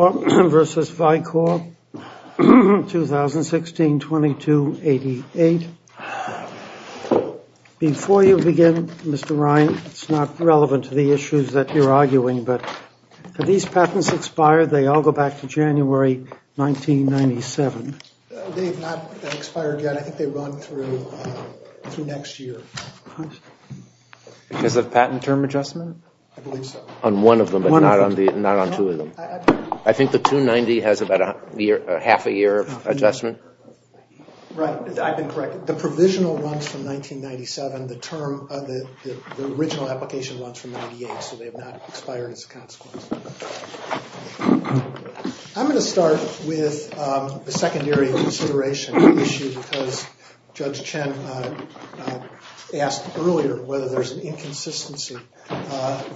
v. Vicor, 2016-22-88. Before you begin, Mr. Ryan, it's not relevant to the issues that you're arguing, but have these patents expired? They all go back to January 1997. They have not expired yet. I think they run through next year. Because of patent term adjustment? I believe so. On one of them, but not on two of them? I think the 290 has about a half a year of adjustment? Right. I've been corrected. The provisional runs from 1997. The original application runs from 1998, so they have not expired as a consequence. I'm going to start with the secondary consideration issue because Judge Chen asked earlier whether there's an inconsistency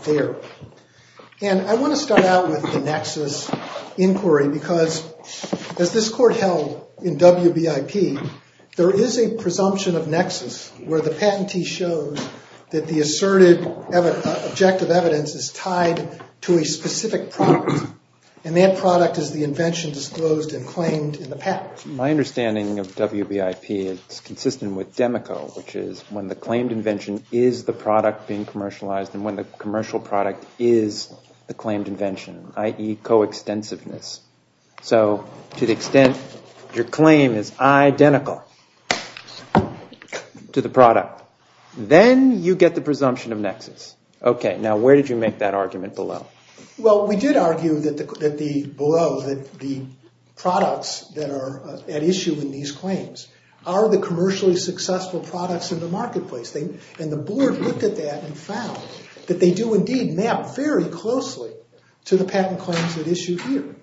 there. I want to start out with the nexus inquiry because, as this Court held in WBIP, there is a presumption of nexus where the patentee shows that the asserted objective evidence is tied to a specific product, and that product is the invention disclosed and claimed in the patent. My understanding of WBIP is consistent with DEMICO, which is when the claimed invention is the product being commercialized and when the commercial product is the claimed invention, i.e. coextensiveness. So to the extent your claim is identical to the product, then you get the presumption of nexus. Now, where did you make that argument below? Well, we did argue below that the products that are at issue in these claims are the commercially successful products in the marketplace. And the Board looked at that and found that they do indeed map very closely to the patent claims at issue here.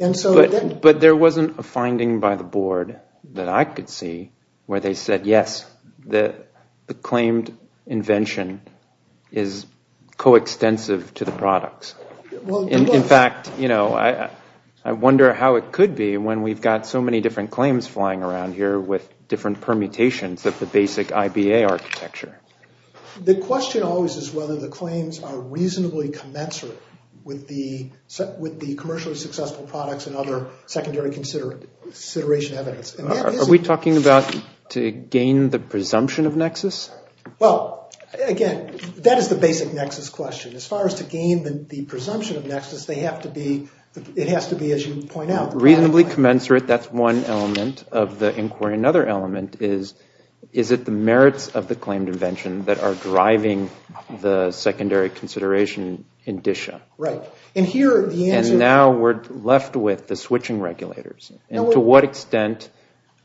But there wasn't a finding by the Board that I could see where they said, yes, the claimed invention is coextensive to the products. In fact, you know, I wonder how it could be when we've got so many different claims flying around here with different permutations of the basic IBA architecture. The question always is whether the claims are reasonably commensurate with the commercially successful products and other secondary consideration evidence. Are we talking about to gain the presumption of nexus? Well, again, that is the basic nexus question. As far as to gain the presumption of nexus, they have to be, it has to be as you point out. Reasonably commensurate, that's one element of the inquiry. Another element is, is it the merits of the claimed invention that are driving the secondary consideration indicia? Right. And here the answer is... And now we're left with the switching regulators. And to what extent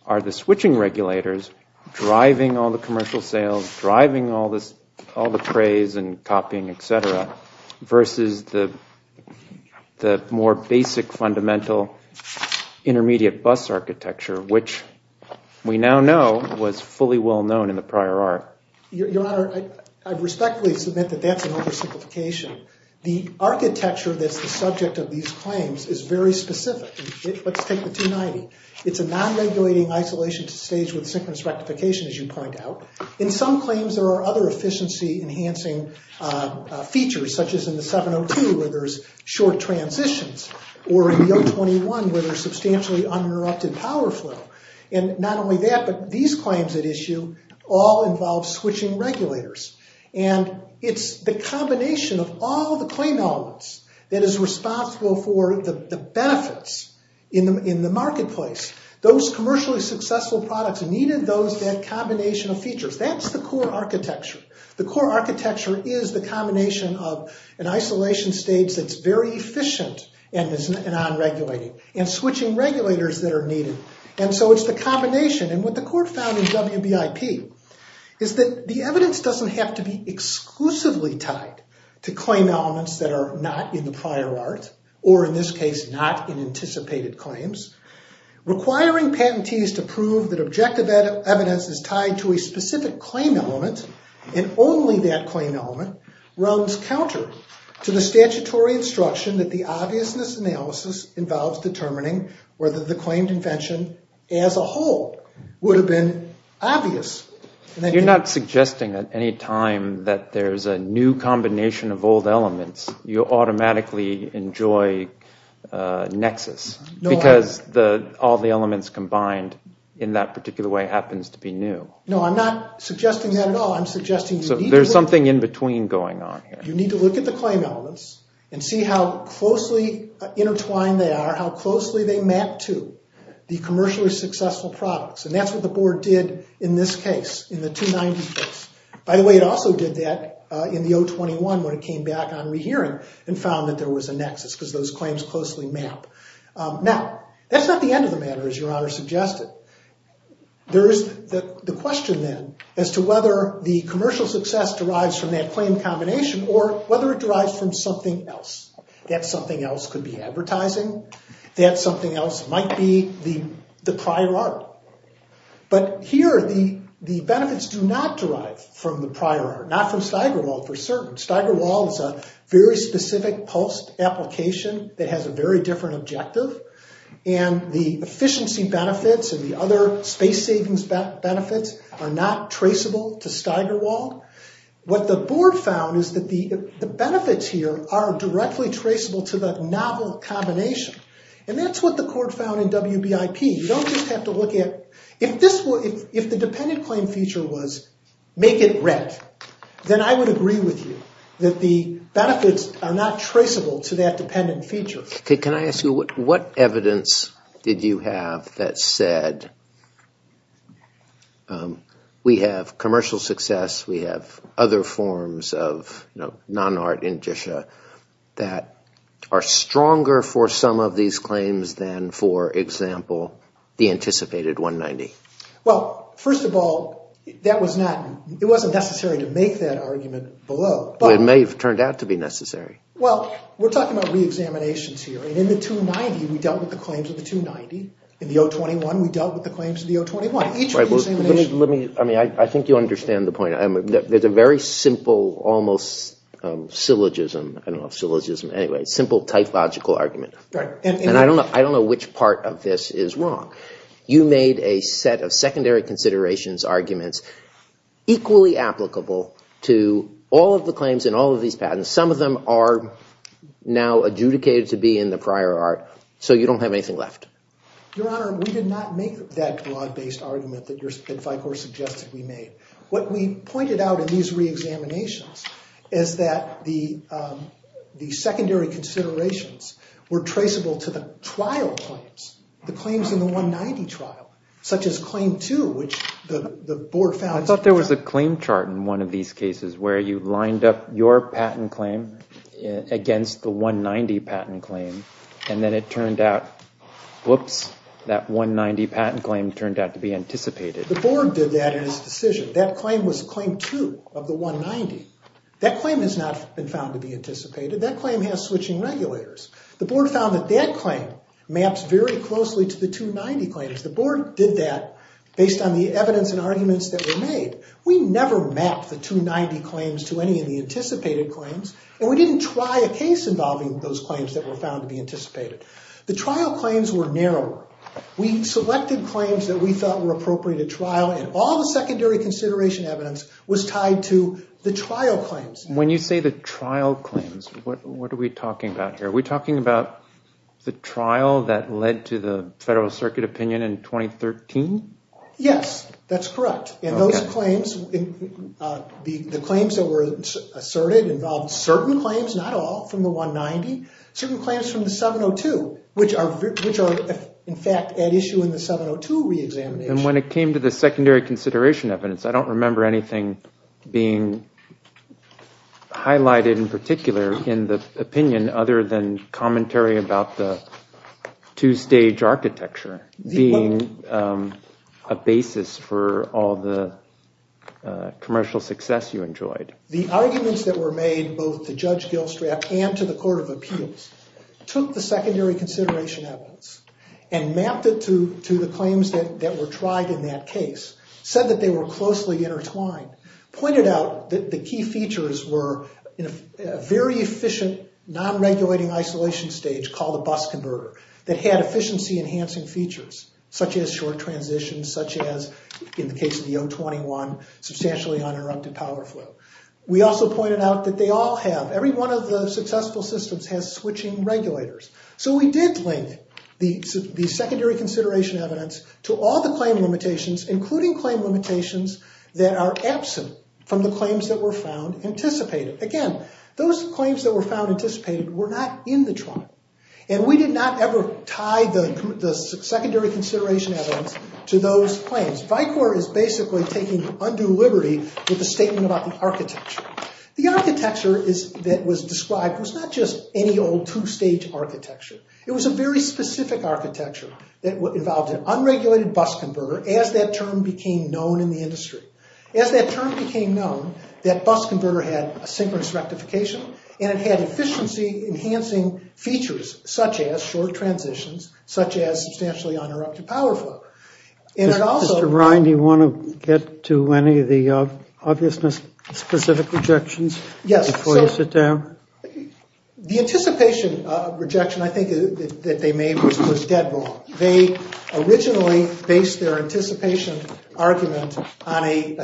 are the switching regulators driving all the commercial sales, driving all the craze and copying, et cetera, versus the more basic fundamental intermediate bus architecture, which we now know was fully well known in the prior art? Your Honor, I respectfully submit that that's an oversimplification. The architecture that's the subject of these claims is very specific. Let's take the 290. It's a non-regulating isolation to stage with synchronous rectification, as you point out. In some claims there are other efficiency enhancing features, such as in the 702 where there's short transitions, or in the 021 where there's substantially uninterrupted power flow. And not only that, but these claims at issue all involve switching regulators. And it's the combination of all the claim elements that is responsible for the benefits in the marketplace. Those commercially successful products needed that combination of features. That's the core architecture. The core architecture is the combination of an isolation stage that's very efficient and is non-regulating, and switching regulators that are needed. And so it's the combination. And what the court found in WBIP is that the evidence doesn't have to be exclusively tied to claim elements that are not in the prior art, or in this case, not in anticipated claims. Requiring patentees to prove that objective evidence is tied to a specific claim element and only that claim element runs counter to the statutory instruction that the obviousness analysis involves determining whether the claimed invention as a whole would have been obvious. You're not suggesting at any time that there's a new combination of old elements. You automatically enjoy nexus because all the elements combined in that particular way happens to be new. No, I'm not suggesting that at all. There's something in between going on here. You need to look at the claim elements and see how closely intertwined they are, how closely they map to the commercially successful products. And that's what the board did in this case, in the 290 case. By the way, it also did that in the 021 when it came back on rehearing and found that there was a nexus because those claims closely map. Now, that's not the end of the matter, as Your Honor suggested. There is the question then as to whether the commercial success derives from that claim combination or whether it derives from something else. That something else could be advertising. That something else might be the prior art. But here the benefits do not derive from the prior art, not from Steigerwald for certain. Steigerwald is a very specific PULST application that has a very different objective. And the efficiency benefits and the other space savings benefits are not traceable to Steigerwald. What the board found is that the benefits here are directly traceable to the novel combination. And that's what the court found in WBIP. You don't just have to look at – if the dependent claim feature was make it red, then I would agree with you that the benefits are not traceable to that dependent feature. Can I ask you what evidence did you have that said we have commercial success, we have other forms of non-art indicia that are stronger for some of these claims than, for example, the anticipated 190? Well, first of all, that was not – it wasn't necessary to make that argument below. But it may have turned out to be necessary. Well, we're talking about reexaminations here. And in the 290, we dealt with the claims of the 290. In the 021, we dealt with the claims of the 021. Let me – I mean, I think you understand the point. There's a very simple, almost syllogism – I don't know if syllogism – anyway, simple typological argument. And I don't know which part of this is wrong. You made a set of secondary considerations arguments equally applicable to all of the claims and all of these patents. Some of them are now adjudicated to be in the prior art, so you don't have anything left. Your Honor, we did not make that broad-based argument that FICOR suggested we made. What we pointed out in these reexaminations is that the secondary considerations were traceable to the trial claims, the claims in the 190 trial, such as Claim 2, which the Board found – I thought there was a claim chart in one of these cases where you lined up your patent claim against the 190 patent claim, and then it turned out – whoops – that 190 patent claim turned out to be anticipated. The Board did that in its decision. That claim was Claim 2 of the 190. That claim has not been found to be anticipated. That claim has switching regulators. The Board found that that claim maps very closely to the 290 claims. The Board did that based on the evidence and arguments that were made. We never mapped the 290 claims to any of the anticipated claims, and we didn't try a case involving those claims that were found to be anticipated. The trial claims were narrower. We selected claims that we thought were appropriate at trial, and all the secondary consideration evidence was tied to the trial claims. When you say the trial claims, what are we talking about here? Are we talking about the trial that led to the Federal Circuit opinion in 2013? Yes, that's correct. And those claims, the claims that were asserted involved certain claims, not all, from the 190, certain claims from the 702, which are, in fact, at issue in the 702 reexamination. And when it came to the secondary consideration evidence, I don't remember anything being highlighted in particular in the opinion other than commentary about the two-stage architecture being a basis for all the commercial success you enjoyed. The arguments that were made both to Judge Gilstrap and to the Court of Appeals took the secondary consideration evidence and mapped it to the claims that were tried in that case, said that they were closely intertwined, pointed out that the key features were a very efficient non-regulating isolation stage called a bus converter that had efficiency-enhancing features, such as short transitions, such as, in the case of the 021, substantially uninterrupted power flow. We also pointed out that they all have, every one of the successful systems has switching regulators. So we did link the secondary consideration evidence to all the claim limitations, including claim limitations that are absent from the claims that were found anticipated. Again, those claims that were found anticipated were not in the trial. And we did not ever tie the secondary consideration evidence to those claims. VICOIR is basically taking undue liberty with a statement about the architecture. The architecture that was described was not just any old two-stage architecture. It was a very specific architecture that involved an unregulated bus converter as that term became known in the industry. As that term became known, that bus converter had a synchronous rectification and it had efficiency-enhancing features, such as short transitions, such as substantially uninterrupted power flow. And it also- Mr. Ryan, do you want to get to any of the obviousness-specific rejections before you sit down? Yes. The anticipation rejection, I think, that they made was dead wrong. They originally based their anticipation argument on a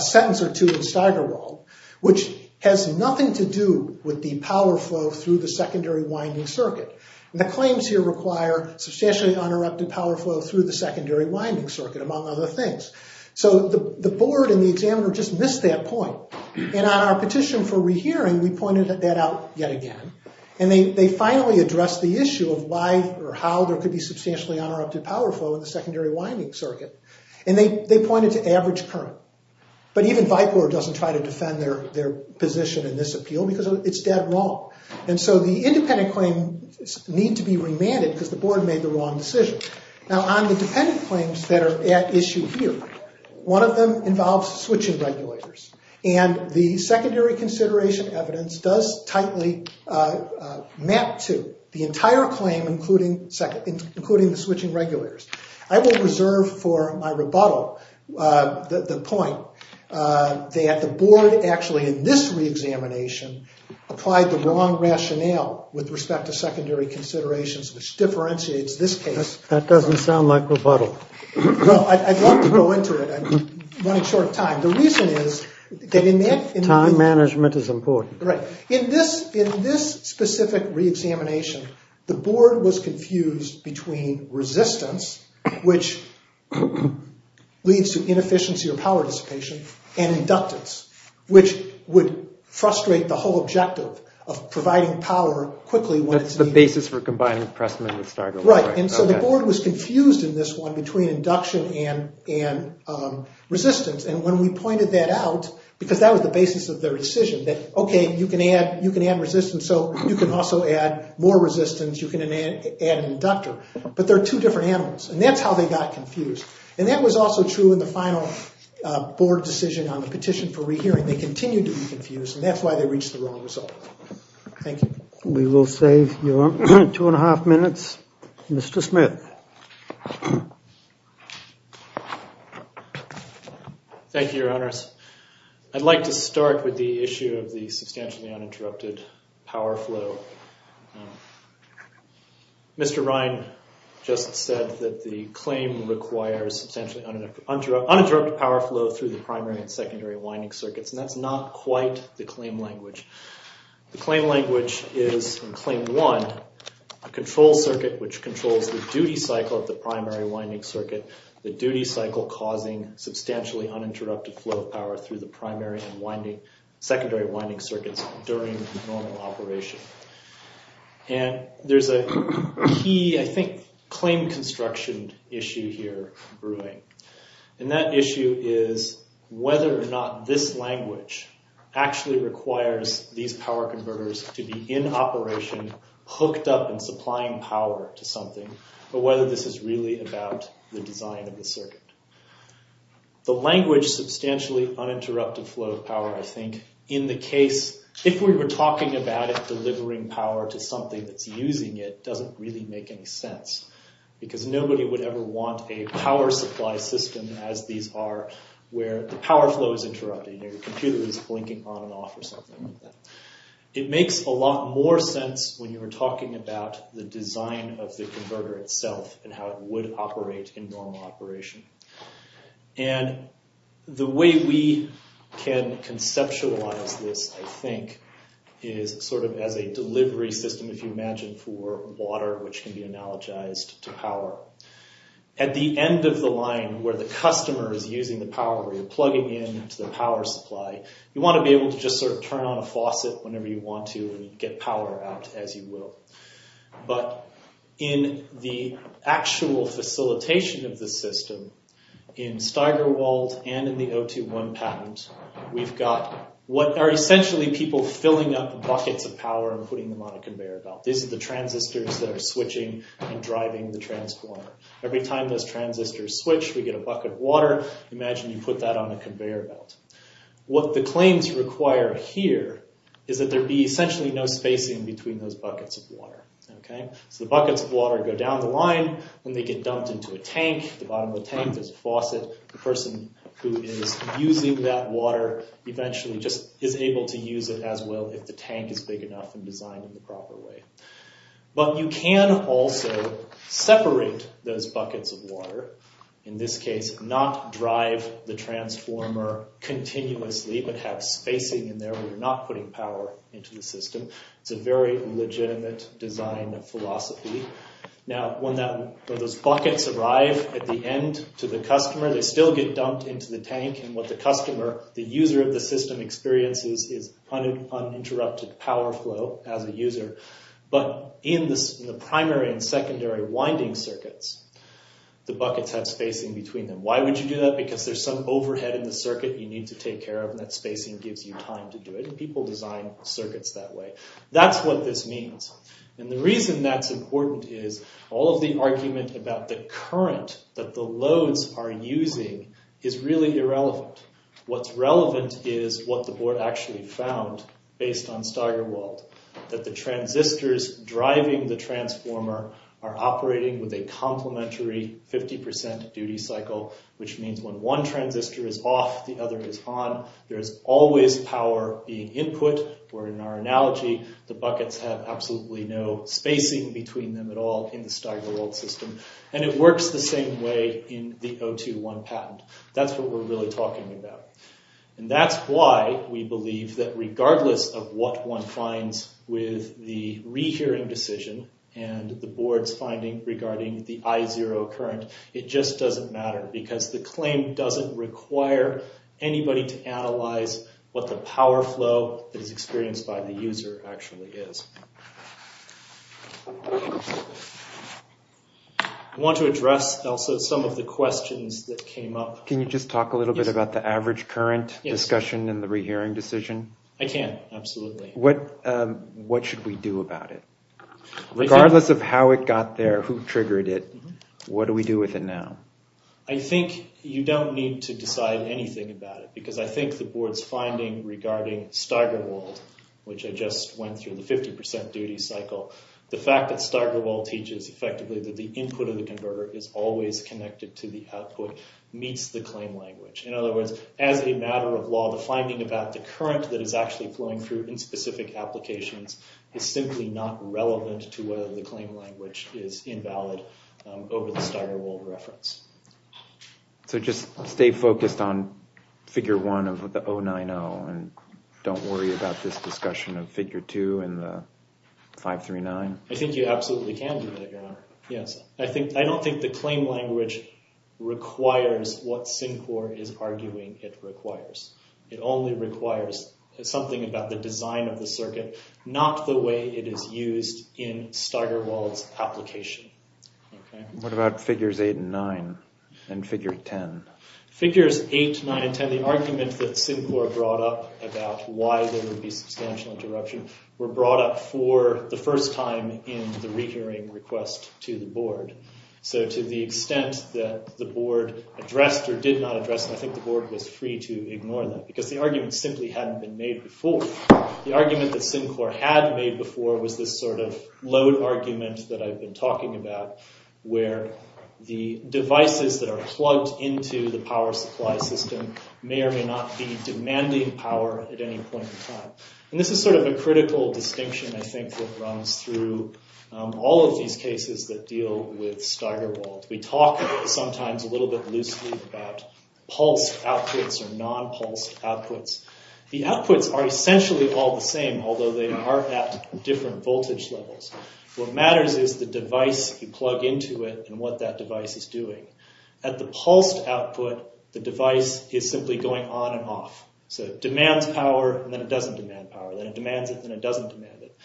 sentence or two in Steigerwald, which has nothing to do with the power flow through the secondary winding circuit. And the claims here require substantially uninterrupted power flow through the secondary winding circuit, among other things. So the board and the examiner just missed that point. And on our petition for rehearing, we pointed that out yet again. And they finally addressed the issue of why or how there could be substantially uninterrupted power flow in the secondary winding circuit. And they pointed to average current. But even VIPOR doesn't try to defend their position in this appeal because it's dead wrong. And so the independent claims need to be remanded because the board made the wrong decision. Now, on the dependent claims that are at issue here, one of them involves switching regulators. And the secondary consideration evidence does tightly map to the entire claim, including the switching regulators. I will reserve for my rebuttal the point that the board actually, in this reexamination, applied the wrong rationale with respect to secondary considerations, which differentiates this case. That doesn't sound like rebuttal. Well, I'd love to go into it. I'm running short of time. The reason is that in that. Time management is important. Right. In this specific reexamination, the board was confused between resistance, which leads to inefficiency or power dissipation, and inductance, which would frustrate the whole objective of providing power quickly when it's needed. That's the basis for combining the Pressman with Stargill. Right. And so the board was confused in this one between induction and resistance. And when we pointed that out, because that was the basis of their decision, that, OK, you can add resistance, so you can also add more resistance, you can add an inductor. But they're two different animals, and that's how they got confused. And that was also true in the final board decision on the petition for rehearing. They continued to be confused, and that's why they reached the wrong result. Thank you. We will save your two and a half minutes. Mr. Smith. Thank you, Your Honors. I'd like to start with the issue of the substantially uninterrupted power flow. Mr. Ryan just said that the claim requires substantially uninterrupted power flow through the primary and secondary winding circuits, and that's not quite the claim language. The claim language is, in Claim 1, a control circuit which controls the duty cycle of the primary winding circuit, the duty cycle causing substantially uninterrupted flow of power through the primary and secondary winding circuits during normal operation. And there's a key, I think, claim construction issue here brewing. And that issue is whether or not this language actually requires these power converters to be in operation, hooked up and supplying power to something, or whether this is really about the design of the circuit. The language, substantially uninterrupted flow of power, I think, in the case, if we were talking about it delivering power to something that's using it, doesn't really make any sense. Because nobody would ever want a power supply system as these are, where the power flow is interrupted, and your computer is blinking on and off or something like that. It makes a lot more sense when you're talking about the design of the converter itself and how it would operate in normal operation. And the way we can conceptualize this, I think, is sort of as a delivery system, if you imagine, for water, which can be analogized to power. At the end of the line, where the customer is using the power, where you're plugging in to the power supply, you want to be able to just sort of turn on a faucet whenever you want to and get power out as you will. But in the actual facilitation of the system, in Steigerwald and in the O2-1 patent, we've got what are essentially people filling up buckets of power and putting them on a conveyor belt. These are the transistors that are switching and driving the transformer. Every time those transistors switch, we get a bucket of water. Imagine you put that on a conveyor belt. What the claims require here is that there be essentially no spacing between those buckets of water. So the buckets of water go down the line, then they get dumped into a tank. At the bottom of the tank, there's a faucet. So the person who is using that water eventually just is able to use it as well if the tank is big enough and designed in the proper way. But you can also separate those buckets of water. In this case, not drive the transformer continuously, but have spacing in there where you're not putting power into the system. It's a very legitimate design philosophy. Now, when those buckets arrive at the end to the customer, they still get dumped into the tank. And what the customer, the user of the system, experiences is uninterrupted power flow as a user. But in the primary and secondary winding circuits, the buckets have spacing between them. Why would you do that? Because there's some overhead in the circuit you need to take care of, and that spacing gives you time to do it. And people design circuits that way. That's what this means. And the reason that's important is all of the argument about the current that the loads are using is really irrelevant. What's relevant is what the board actually found based on Steigerwald, that the transistors driving the transformer are operating with a complementary 50% duty cycle, which means when one transistor is off, the other is on. There's always power being input, where in our analogy, the buckets have absolutely no spacing between them at all in the Steigerwald system. And it works the same way in the O2-1 patent. That's what we're really talking about. And that's why we believe that regardless of what one finds with the rehearing decision and the board's finding regarding the I0 current, it just doesn't matter because the claim doesn't require anybody to analyze what the power flow that is experienced by the user actually is. I want to address also some of the questions that came up. Can you just talk a little bit about the average current discussion in the rehearing decision? I can, absolutely. What should we do about it? Regardless of how it got there, who triggered it, what do we do with it now? I think you don't need to decide anything about it because I think the board's finding regarding Steigerwald, which I just went through, the 50% duty cycle, the fact that Steigerwald teaches effectively that the input of the converter is always connected to the output meets the claim language. In other words, as a matter of law, the finding about the current that is actually flowing through in specific applications is simply not relevant to whether the claim language is invalid over the Steigerwald reference. So just stay focused on Figure 1 of the 090 and don't worry about this discussion of Figure 2 and the 539? I think you absolutely can do that, Your Honor. Yes, I don't think the claim language requires what Syncor is arguing it requires. It only requires something about the design of the circuit, not the way it is used in Steigerwald's application. What about Figures 8 and 9 and Figure 10? Figures 8, 9, and 10, the argument that Syncor brought up about why there would be substantial interruption were brought up for the first time in the rehearing request to the board. So to the extent that the board addressed or did not address, I think the board was free to ignore that because the argument simply hadn't been made before. The argument that Syncor had made before was this sort of load argument that I've been talking about where the devices that are plugged into the power supply system may or may not be demanding power at any point in time. And this is sort of a critical distinction, I think, that runs through all of these cases that deal with Steigerwald. We talk sometimes a little bit loosely about pulsed outputs or non-pulsed outputs. The outputs are essentially all the same, although they are at different voltage levels. What matters is the device you plug into it and what that device is doing. At the pulsed output, the device is simply going on and off. So it demands power, and then it doesn't demand power. Then it demands it, then it doesn't demand it.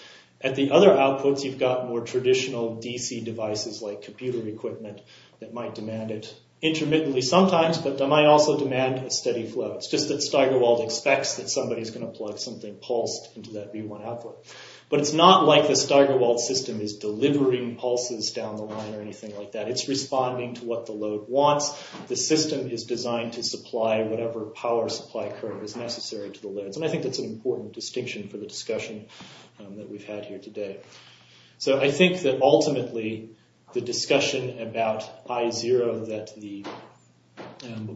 At the other outputs, you've got more traditional DC devices like computer equipment that might demand it intermittently sometimes, but they might also demand a steady flow. It's just that Steigerwald expects that somebody is going to plug something pulsed into that V1 output. But it's not like the Steigerwald system is delivering pulses down the line or anything like that. It's responding to what the load wants. The system is designed to supply whatever power supply current is necessary to the loads. And I think that's an important distinction for the discussion that we've had here today. So I think that ultimately the discussion about I0 that the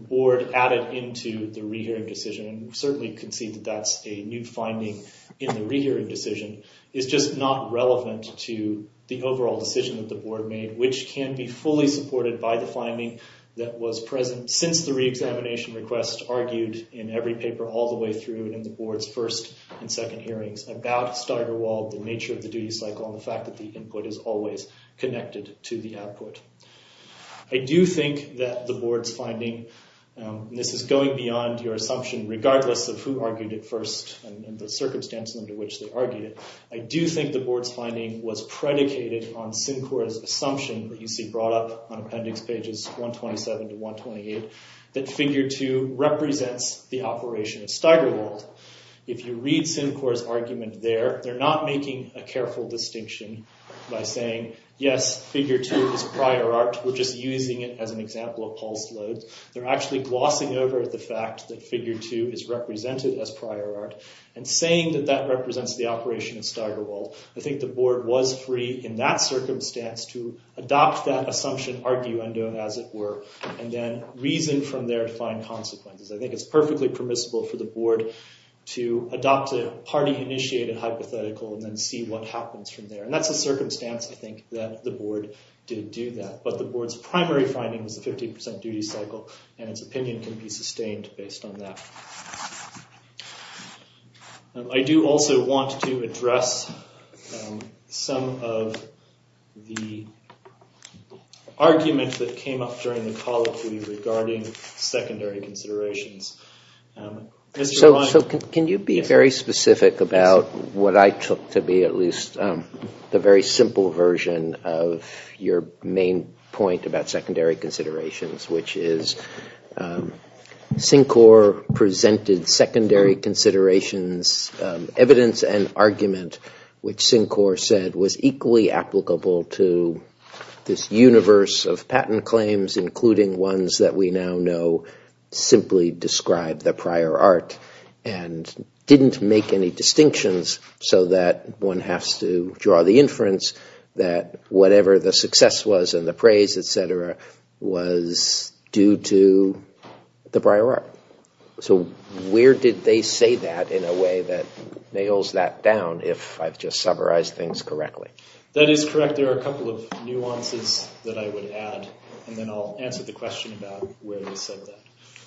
board added into the re-hearing decision, and certainly concede that that's a new finding in the re-hearing decision, is just not relevant to the overall decision that the board made, which can be fully supported by the finding that was present since the re-examination request argued in every paper all the way through and in the board's first and second hearings about Steigerwald, the nature of the duty cycle, and the fact that the input is always connected to the output. I do think that the board's finding, and this is going beyond your assumption regardless of who argued it first and the circumstances under which they argued it, I do think the board's finding was predicated on Syncor's assumption that you see brought up on appendix pages 127 to 128 that figure 2 represents the operation of Steigerwald. If you read Syncor's argument there, they're not making a careful distinction by saying, yes, figure 2 is prior art. We're just using it as an example of pulsed loads. They're actually glossing over the fact that figure 2 is represented as prior art and saying that that represents the operation of Steigerwald. I think the board was free in that circumstance to adopt that assumption, arguendo as it were, and then reason from there to find consequences. I think it's perfectly permissible for the board to adopt a party-initiated hypothetical and then see what happens from there. That's a circumstance, I think, that the board did do that. But the board's primary finding was the 15% duty cycle, and its opinion can be sustained based on that. I do also want to address some of the arguments that came up during the colloquy regarding secondary considerations. Can you be very specific about what I took to be at least the very simple version of your main point about secondary considerations, which is Syncor presented secondary considerations, evidence and argument, which Syncor said was equally applicable to this universe of patent claims, including ones that we now know simply describe the prior art and didn't make any distinctions so that one has to draw the inference that whatever the success was and the praise, etc., was due to the prior art. So where did they say that in a way that nails that down, if I've just summarized things correctly? That is correct. There are a couple of nuances that I would add, and then I'll answer the question about where they said that.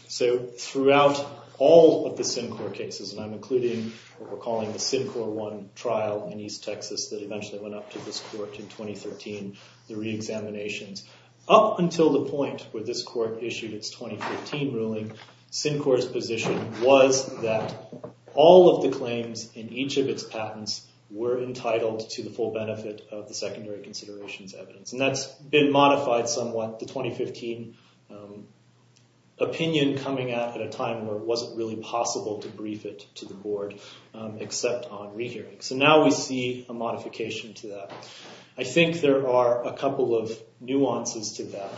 So throughout all of the Syncor cases, and I'm including what we're calling the Syncor 1 trial in East Texas that eventually went up to this court in 2013, the reexaminations, up until the point where this court issued its 2014 ruling, Syncor's position was that all of the claims in each of its patents were entitled to the full benefit of the secondary considerations evidence. And that's been modified somewhat, the 2015 opinion coming out at a time where it wasn't really possible to brief it to the board except on rehearing. So now we see a modification to that. I think there are a couple of nuances to that.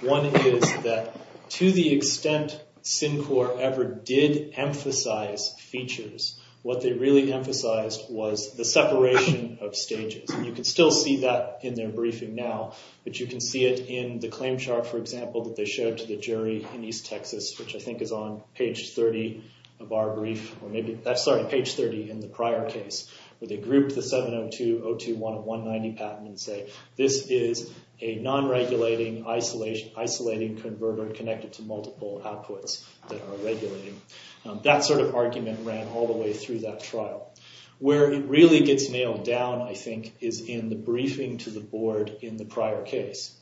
One is that to the extent Syncor ever did emphasize features, what they really emphasized was the separation of stages. And you can still see that in their briefing now, but you can see it in the claim chart, for example, that they showed to the jury in East Texas, which I think is on page 30 of our brief, or maybe, sorry, page 30 in the prior case, where they grouped the 702.021.190 patent and say, this is a non-regulating, isolating converter connected to multiple outputs that are regulating. That sort of argument ran all the way through that trial. Where it really gets nailed down, I think, is in the briefing to the board in the prior case.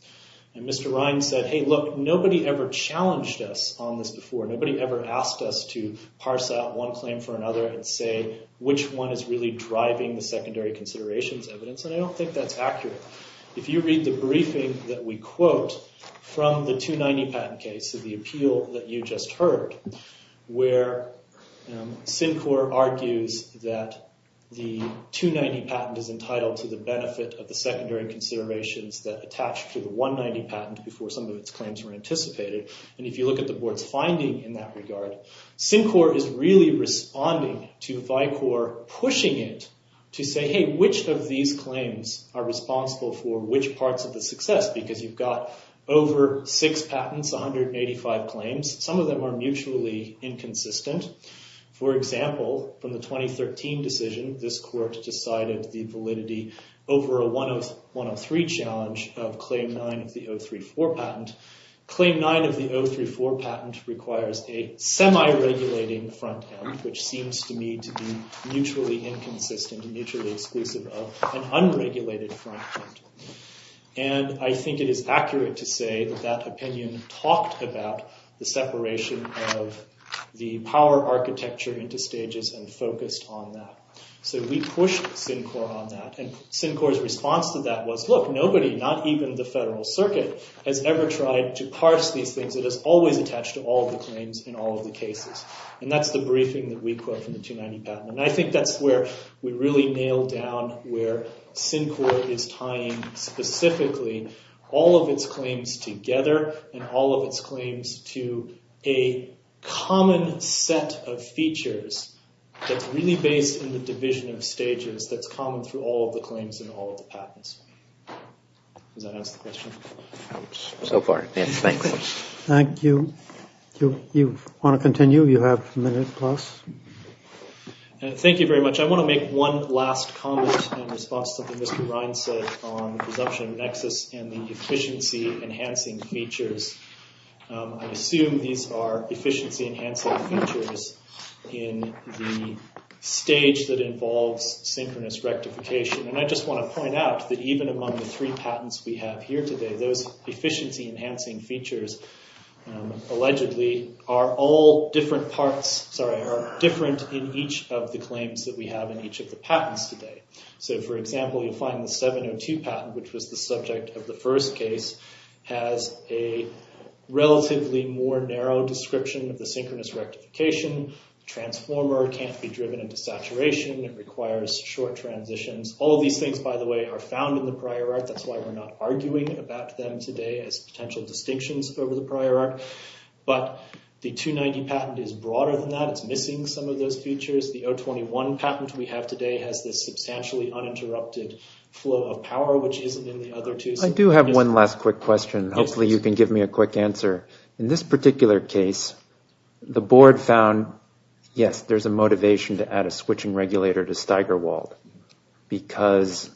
And Mr. Ryan said, hey, look, nobody ever challenged us on this before. Nobody ever asked us to parse out one claim for another and say which one is really driving the secondary considerations evidence, and I don't think that's accurate. If you read the briefing that we quote from the 290 patent case, so the appeal that you just heard, where Syncor argues that the 290 patent is entitled to the benefit of the secondary considerations that attach to the 190 patent before some of its claims were anticipated, and if you look at the board's finding in that regard, Syncor is really responding to Vicor, pushing it to say, hey, which of these claims are responsible for which parts of the success? Because you've got over six patents, 185 claims. Some of them are mutually inconsistent. For example, from the 2013 decision, this court decided the validity over a 103 challenge of Claim 9 of the 034 patent. Claim 9 of the 034 patent requires a semi-regulating front end, which seems to me to be mutually inconsistent and mutually exclusive of an unregulated front end. And I think it is accurate to say that that opinion talked about the separation of the power architecture into stages and focused on that. So we pushed Syncor on that, and Syncor's response to that was, look, nobody, not even the federal circuit, has ever tried to parse these things. It is always attached to all of the claims in all of the cases. And that's the briefing that we quote from the 290 patent. And I think that's where we really nailed down where Syncor is tying specifically all of its claims together and all of its claims to a common set of features that's really based in the division of stages that's common through all of the claims in all of the patents. Does that answer the question? So far, yes. Thanks. Thank you. Do you want to continue? You have a minute plus. Thank you very much. I want to make one last comment in response to something Mr. Ryan said on the presumption of nexus and the efficiency-enhancing features. I assume these are efficiency-enhancing features in the stage that involves synchronous rectification. And I just want to point out that even among the three patents we have here today, those efficiency-enhancing features allegedly are all different parts, sorry, are different in each of the claims that we have in each of the patents today. So, for example, you'll find the 702 patent, which was the subject of the first case, has a relatively more narrow description of the synchronous rectification. Transformer can't be driven into saturation. It requires short transitions. All of these things, by the way, are found in the prior art. That's why we're not arguing about them today as potential distinctions over the prior art. But the 290 patent is broader than that. It's missing some of those features. The 021 patent we have today has this substantially uninterrupted flow of power, which isn't in the other two. I do have one last quick question. Hopefully you can give me a quick answer. In this particular case, the board found, yes, there's a motivation to add a switching regulator to Steigerwald because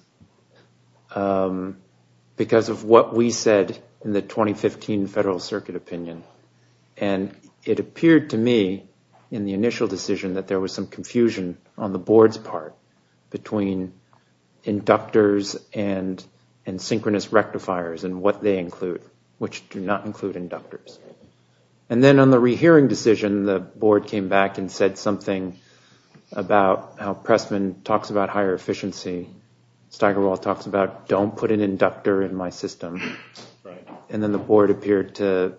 of what we said in the 2015 Federal Circuit opinion. It appeared to me in the initial decision that there was some confusion on the board's part between inductors and synchronous rectifiers and what they include, which do not include inductors. Then on the rehearing decision, the board came back and said something about how Pressman talks about higher efficiency. Steigerwald talks about don't put an inductor in my system. Then the board appeared to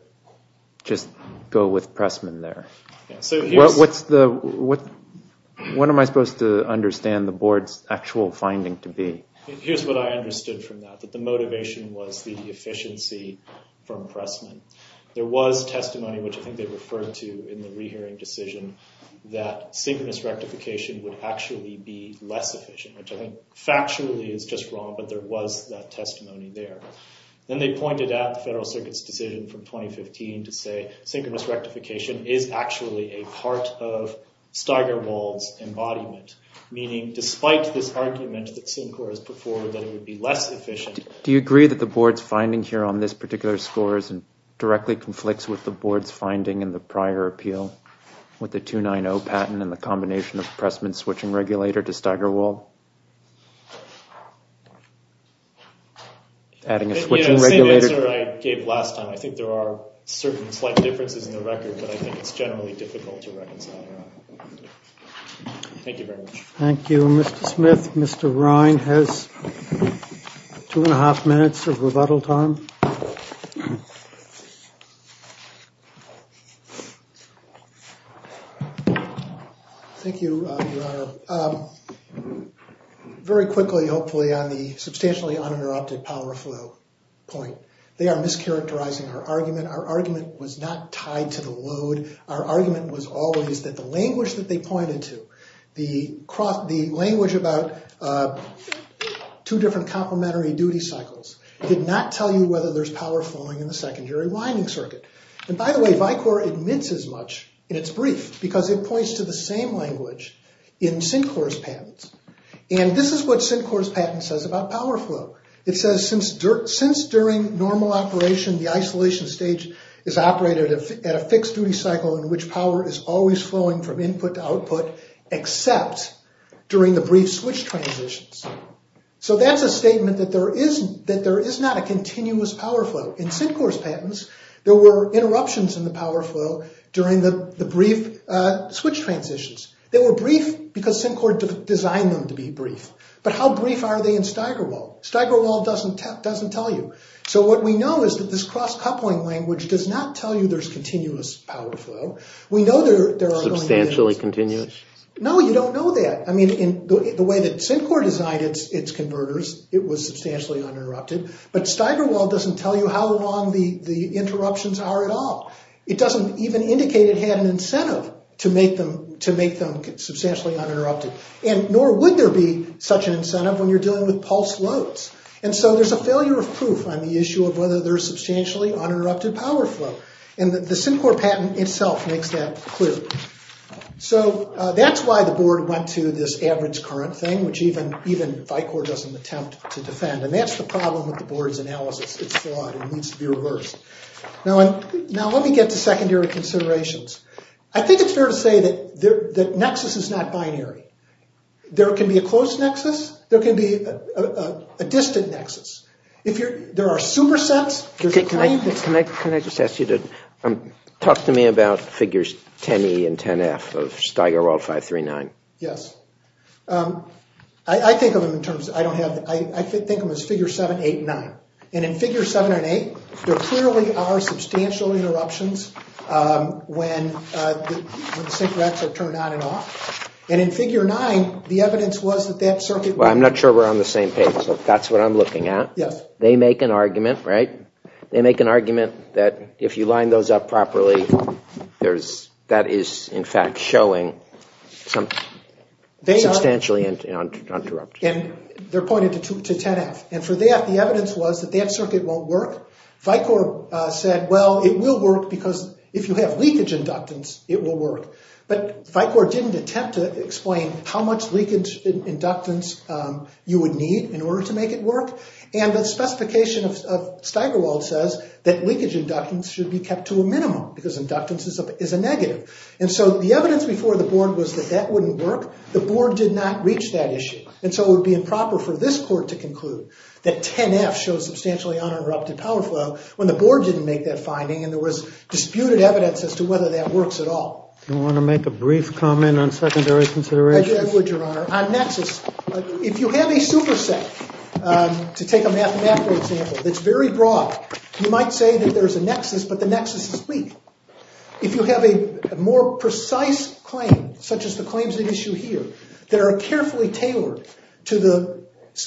just go with Pressman there. What am I supposed to understand the board's actual finding to be? Here's what I understood from that, that the motivation was the efficiency from Pressman. There was testimony, which I think they referred to in the rehearing decision, that synchronous rectification would actually be less efficient, which I think factually is just wrong, but there was that testimony there. Then they pointed at the Federal Circuit's decision from 2015 to say synchronous rectification is actually a part of Steigerwald's embodiment, meaning despite this argument that Syncor has put forward that it would be less efficient. Do you agree that the board's finding here on this particular score directly conflicts with the board's finding in the prior appeal with the 290 patent and the combination of Pressman switching regulator to Steigerwald? Adding a switching regulator. The same answer I gave last time. I think there are certain slight differences in the record, but I think it's generally difficult to reconcile. Thank you very much. Thank you, Mr. Smith. Mr. Ryan has two and a half minutes of rebuttal time. Thank you, Your Honor. Very quickly, hopefully, on the substantially uninterrupted power flow point, they are mischaracterizing our argument. Our argument was not tied to the load. Our argument was always that the language that they pointed to, the language about two different complementary duty cycles, did not tell you whether there's power flowing in the secondary winding circuit. And by the way, Vicor admits as much in its brief, because it points to the same language in Syncor's patents. And this is what Syncor's patent says about power flow. It says, since during normal operation, the isolation stage is operated at a fixed duty cycle in which power is always flowing from input to output, except during the brief switch transitions. So that's a statement that there is not a continuous power flow. In Syncor's patents, there were interruptions in the power flow during the brief switch transitions. They were brief because Syncor designed them to be brief. But how brief are they in Steigerwald? Steigerwald doesn't tell you. So what we know is that this cross-coupling language does not tell you there's continuous power flow. We know there are only… Substantially continuous? No, you don't know that. I mean, the way that Syncor designed its converters, it was substantially uninterrupted. But Steigerwald doesn't tell you how long the interruptions are at all. It doesn't even indicate it had an incentive to make them substantially uninterrupted. And nor would there be such an incentive when you're dealing with pulse loads. And so there's a failure of proof on the issue of whether there's substantially uninterrupted power flow. And the Syncor patent itself makes that clear. So that's why the board went to this average current thing, which even Vicor doesn't attempt to defend. And that's the problem with the board's analysis. It's flawed. It needs to be reversed. Now let me get to secondary considerations. I think it's fair to say that nexus is not binary. There can be a close nexus. There can be a distant nexus. If there are supersets… Can I just ask you to talk to me about figures 10E and 10F of Steigerwald 539? Yes. I think of them as figure 7, 8, and 9. And in figure 7 and 8, there clearly are substantial interruptions when the syncorats are turned on and off. And in figure 9, the evidence was that that circuit… Well, I'm not sure we're on the same page, but that's what I'm looking at. Yes. They make an argument, right? They make an argument that if you line those up properly, that is, in fact, showing some… …substantially uninterrupted. And they're pointed to 10F. And for that, the evidence was that that circuit won't work. Vicor said, well, it will work because if you have leakage inductance, it will work. But Vicor didn't attempt to explain how much leakage inductance you would need in order to make it work. And the specification of Steigerwald says that leakage inductance should be kept to a minimum because inductance is a negative. And so the evidence before the board was that that wouldn't work. The board did not reach that issue. And so it would be improper for this court to conclude that 10F shows substantially uninterrupted power flow when the board didn't make that finding. And there was disputed evidence as to whether that works at all. Do you want to make a brief comment on secondary considerations? I would, Your Honor. On nexus, if you have a superset, to take a mathematical example that's very broad, you might say that there's a nexus, but the nexus is weak. If you have a more precise claim, such as the claims at issue here, that are carefully tailored to the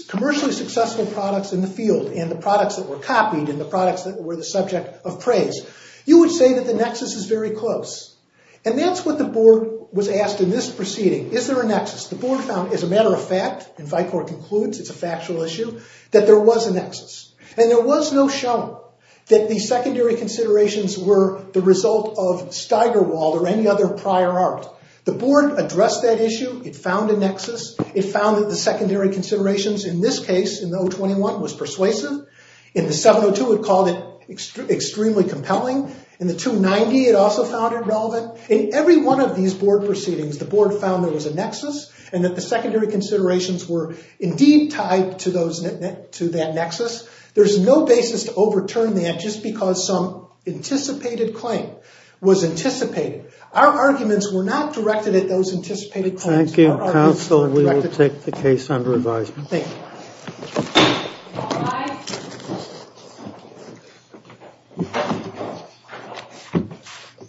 commercially successful products in the field, and the products that were copied, and the products that were the subject of praise, you would say that the nexus is very close. And that's what the board was asked in this proceeding. Is there a nexus? The board found, as a matter of fact, and Vicor concludes it's a factual issue, that there was a nexus. And there was no show that the secondary considerations were the result of Steigerwald or any other prior art. The board addressed that issue. It found a nexus. It found that the secondary considerations in this case, in the 021, was persuasive. In the 702, it called it extremely compelling. In the 290, it also found it relevant. In every one of these board proceedings, the board found there was a nexus, and that the secondary considerations were indeed tied to that nexus. There's no basis to overturn that just because some anticipated claim was anticipated. Our arguments were not directed at those anticipated claims. Thank you, counsel. We will take the case under advisement. Thank you.